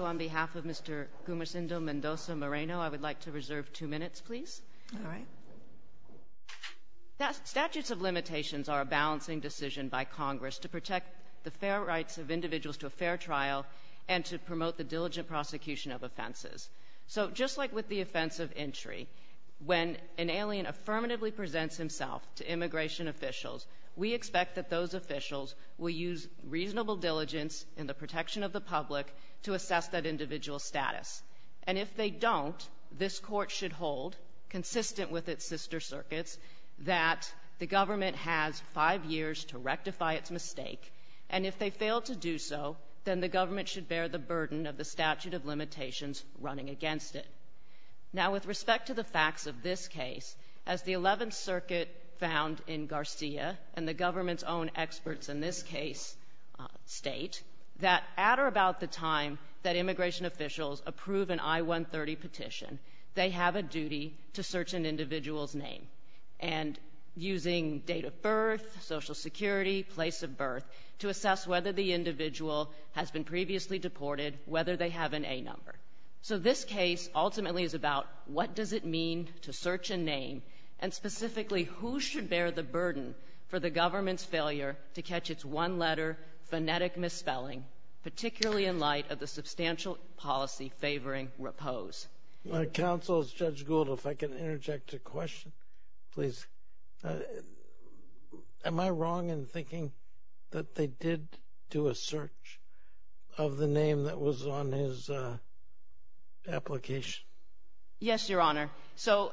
on behalf of Mr. Gumesindo Mendoza-Moreno, I would like to reserve two minutes, please. All right. Statutes of limitations are a balancing decision by Congress to protect the fair rights of individuals to a fair trial and to promote the diligent prosecution of offenses. So just like with the offense of entry, when an alien affirmatively presents himself to immigration officials, we expect that those officials will use reasonable diligence in the protection of the public to assess that individual's status. And if they don't, this Court should hold, consistent with its sister circuits, that the government has five years to rectify its mistake, and if they fail to do so, then the government should bear the burden of the statute of limitations running against it. Now, with respect to the facts of this case, as the Eleventh Circuit found in Garcia and the government's own experts in this case state, that at or about the time that immigration officials approve an I-130 petition, they have a duty to search an individual's name. And using date of birth, Social Security, place of birth, to assess whether the individual has been previously deported, whether they have an A number. So this case ultimately is about what does it mean to search a name, and specifically who should bear the burden for the government's failure to catch its one-letter phonetic misspelling, particularly in light of the substantial policy favoring repose. My counsel is Judge Gould. If I can interject a question, please. Am I wrong in thinking that they did do a search of the name that was on his application? Yes, Your Honor. So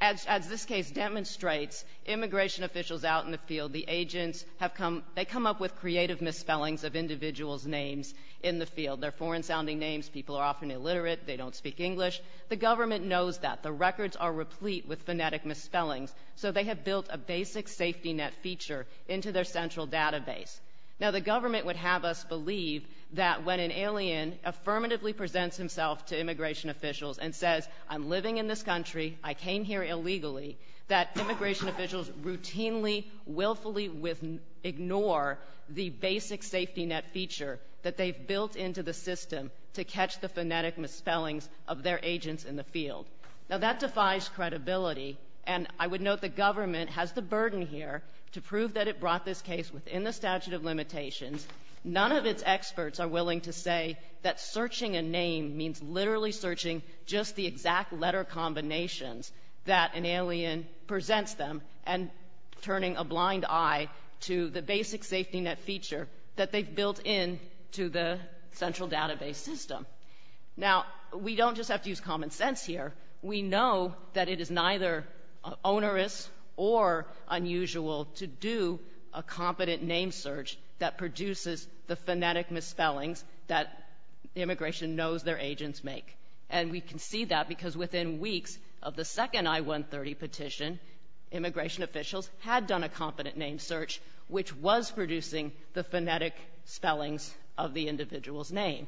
as this case demonstrates, immigration officials out in the field, the agents have come up with creative misspellings of individuals' names in the field. They're foreign-sounding names. People are often illiterate. They don't speak English. The government knows that. The records are replete with phonetic misspellings. So they have built a basic safety net feature into their central database. Now, the government would have us believe that when an alien affirmatively presents himself to immigration officials and says, I'm living in this country, I came here illegally, that immigration officials routinely, willfully ignore the basic safety net feature that they've built into the system to catch the phonetic misspellings of their agents in the field. Now, that defies credibility. And I would note the government has the burden here to prove that it brought this case within the statute of limitations. None of its experts are willing to say that searching a name means literally searching just the exact letter combinations that an alien presents them and turning a blind eye to the basic safety net feature that they've built into the central database system. Now, we don't just have to use common sense here. We know that it is neither onerous or unusual to do a competent name search that produces the phonetic misspellings that immigration knows their agents make. And we can see that because within weeks of the second I-130 petition, immigration officials had done a competent name search which was producing the phonetic spellings of the individual's name.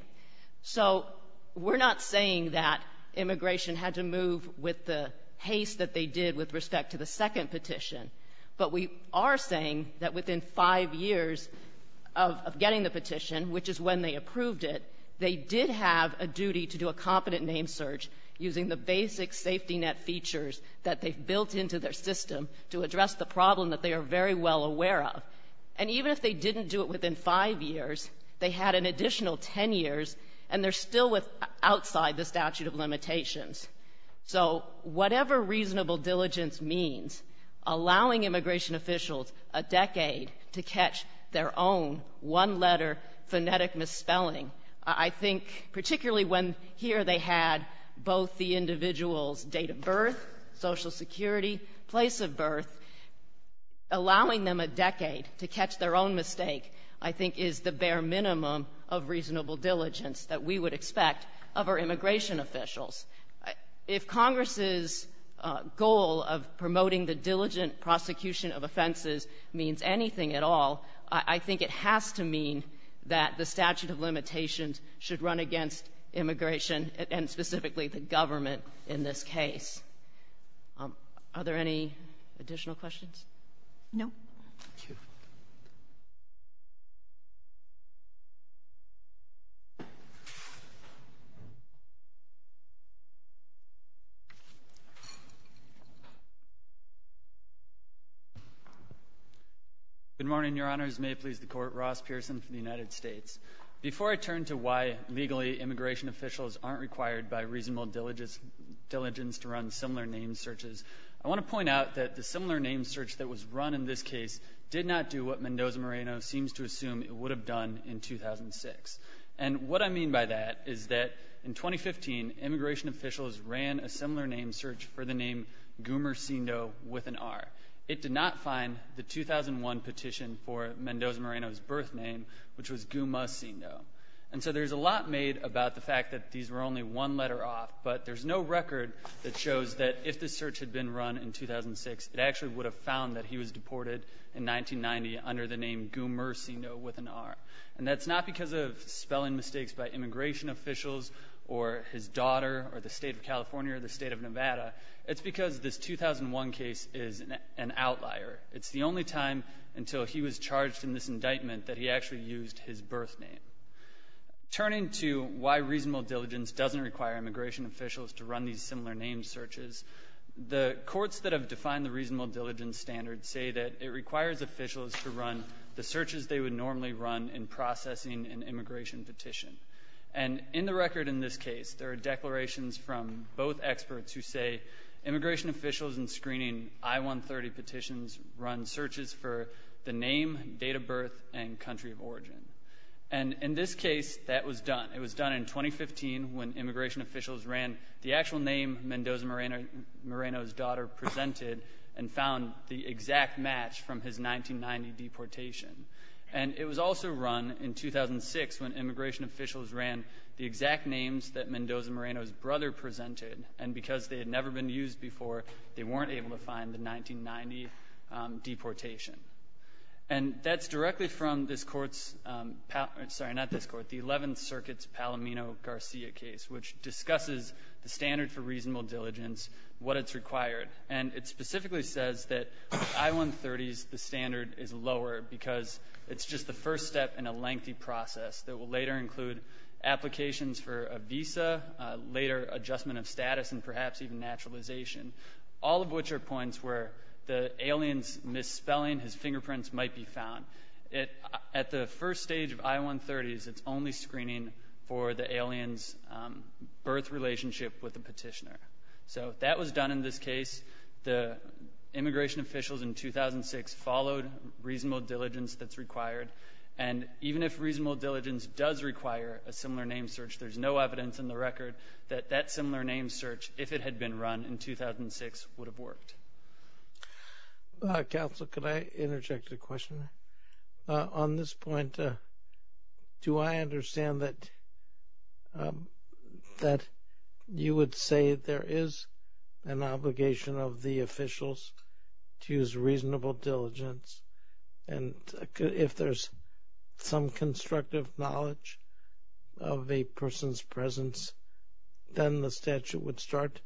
So we're not saying that immigration had to move with the haste that they did with respect to the second petition. But we are saying that within five years of getting the petition, which is when they approved it, they did have a duty to do a competent name search using the basic safety net features that they've built into their system to address the problem that they are very well aware of. And even if they didn't do it within five years, they had an additional ten years, and they're still outside the statute of limitations. So whatever reasonable diligence means, allowing immigration officials a decade to catch their own one-letter phonetic misspelling, I think particularly when here they had both the individual's date of birth, Social Security, place of birth, allowing them a decade to catch their own mistake I think is the bare minimum of reasonable diligence that we would expect of our immigration officials. If Congress's goal of promoting the diligent prosecution of offenses means anything at all, I think it has to mean that the statute of limitations should run against immigration and specifically the government in this case. Are there any additional questions? No. Thank you. Good morning, Your Honors. May it please the Court. Ross Pearson from the United States. Before I turn to why, legally, immigration officials aren't required by reasonable diligence to run similar name searches, I want to point out that the similar name search that was run in this case did not do what Mendoza-Moreno seems to assume it would have done in 2006. And what I mean by that is that in 2015, immigration officials ran a similar name search for the name Gumacindo with an R. It did not find the 2001 petition for Mendoza-Moreno's birth name, which was Gumacindo. And so there's a lot made about the fact that these were only one letter off, but there's no record that shows that if this search had been run in 2006, it actually would have found that he was deported in 1990 under the name Gumacindo with an R. And that's not because of spelling mistakes by immigration officials or his daughter or the State of California or the State of Nevada. It's because this 2001 case is an outlier. It's the only time until he was charged in this indictment that he actually used his birth name. Turning to why reasonable diligence doesn't require immigration officials to run these similar name searches, the courts that have defined the reasonable diligence standard say that it requires officials to run the searches they would normally run in processing an immigration petition. And in the record in this case, there are declarations from both experts who say immigration officials in screening I-130 petitions run searches for the name, date of birth, and country of origin. And in this case, that was done. It was done in 2015 when immigration officials ran the actual name Mendoza Moreno's daughter presented and found the exact match from his 1990 deportation. And it was also run in 2006 when immigration officials ran the exact names that Mendoza Moreno's brother presented, and because they had never been used before, they weren't able to find the 1990 deportation. And that's directly from this Court's — sorry, not this Court, the Eleventh Circuit's Palomino-Garcia case, which discusses the standard for reasonable diligence, what it's required. And it specifically says that I-130's standard is lower because it's just the first step in a lengthy process that will later include applications for a visa, later adjustment of status, and perhaps even fingerprints might be found. At the first stage of I-130's, it's only screening for the alien's birth relationship with the petitioner. So that was done in this case. The immigration officials in 2006 followed reasonable diligence that's required. And even if reasonable diligence does require a similar name search, there's no evidence in the record that that similar name search, if it had been run in 2006, would have worked. Counsel, could I interject a question? On this point, do I understand that you would say there is an obligation of the officials to use reasonable diligence, and if there's some constructive knowledge of a person's presence, then the statute would start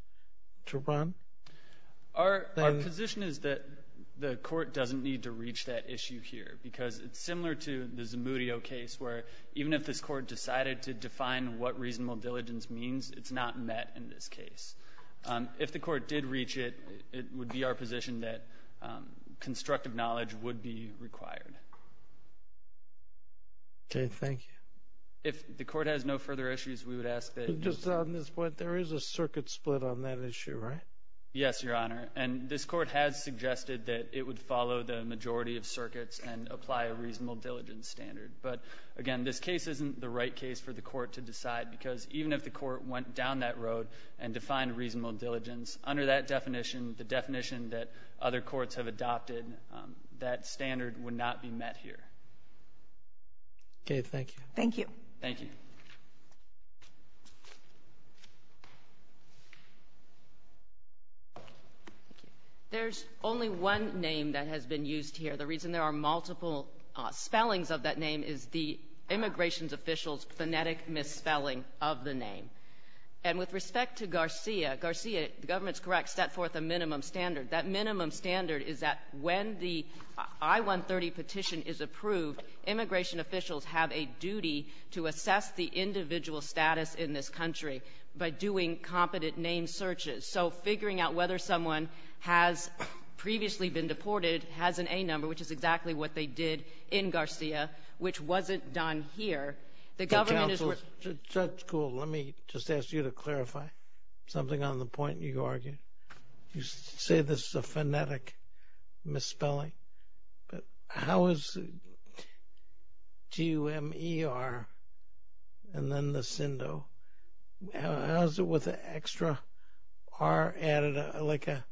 to run? Our position is that the Court doesn't need to reach that issue here, because it's similar to the Zamudio case, where even if this Court decided to define what reasonable diligence means, it's not met in this case. If the Court did reach it, it would be our position that constructive knowledge would be required. Okay. Thank you. If the Court has no further issues, we would ask that you there is a circuit split on that issue, right? Yes, Your Honor. And this Court has suggested that it would follow the majority of circuits and apply a reasonable diligence standard. But, again, this case isn't the right case for the Court to decide, because even if the Court went down that road and defined reasonable diligence, under that definition, the definition that other courts have adopted, that standard would not be met here. Okay. Thank you. Thank you. Thank you. Thank you. There's only one name that has been used here. The reason there are multiple spellings of that name is the immigration official's phonetic misspelling of the name. And with respect to Garcia, Garcia, the government's correct, set forth a minimum standard. That minimum standard is that when the I-130 petition is approved, immigration officials have a duty to assess the individual status in this country by doing competent name searches. So figuring out whether someone has previously been deported has an A number, which is exactly what they did in Garcia, which wasn't done here. The government is That's cool. Let me just ask you to clarify something on the point you argue. You say this is a phonetic misspelling, but how is T-U-M-E-R and then the Sindo, how is it with the extra R added, like a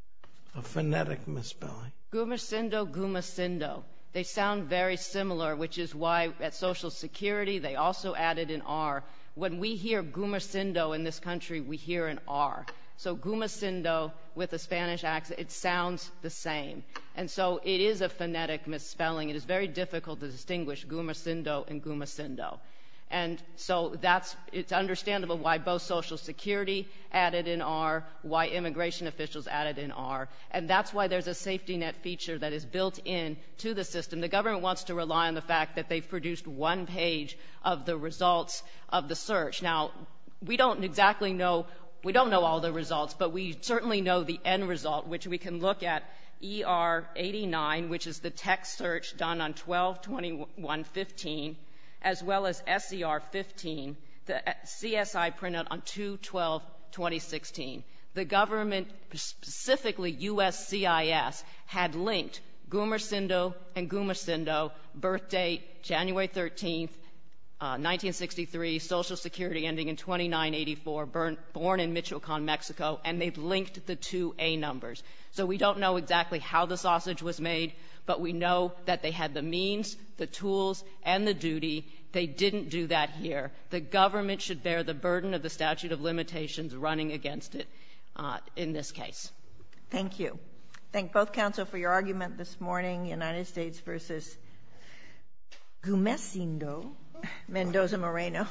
phonetic misspelling? Gumasindo, Gumasindo. They sound very similar, which is why at Social Security, they also added an R. When we hear Gumasindo in this country, we hear an R. So Gumasindo with a Spanish accent, it sounds the same. And so it is a phonetic misspelling. It is very difficult to distinguish Gumasindo and Gumasindo. And so that's, it's understandable why both Social Security added an R, why immigration officials added an R. And that's why there's a safety net feature that is built into the system. The government wants to rely on the fact that they've produced one page of the results of the search. Now, we don't exactly know, we certainly know the end result, which we can look at ER-89, which is the text search done on 12-21-15, as well as SCR-15, the CSI printed on 2-12-2016. The government, specifically U.S.C.I.S., had linked Gumasindo and Gumasindo, birth date January 13th, 1963, Social Security ending in 2984, born in Michoacán, Mexico, and they linked the two A numbers. So we don't know exactly how the sausage was made, but we know that they had the means, the tools, and the duty. They didn't do that here. The government should bear the burden of the statute of limitations running against it in this case. Thank you. Thank both counsel for your argument this morning, United States versus Gumasindo, Mendoza-Moreno.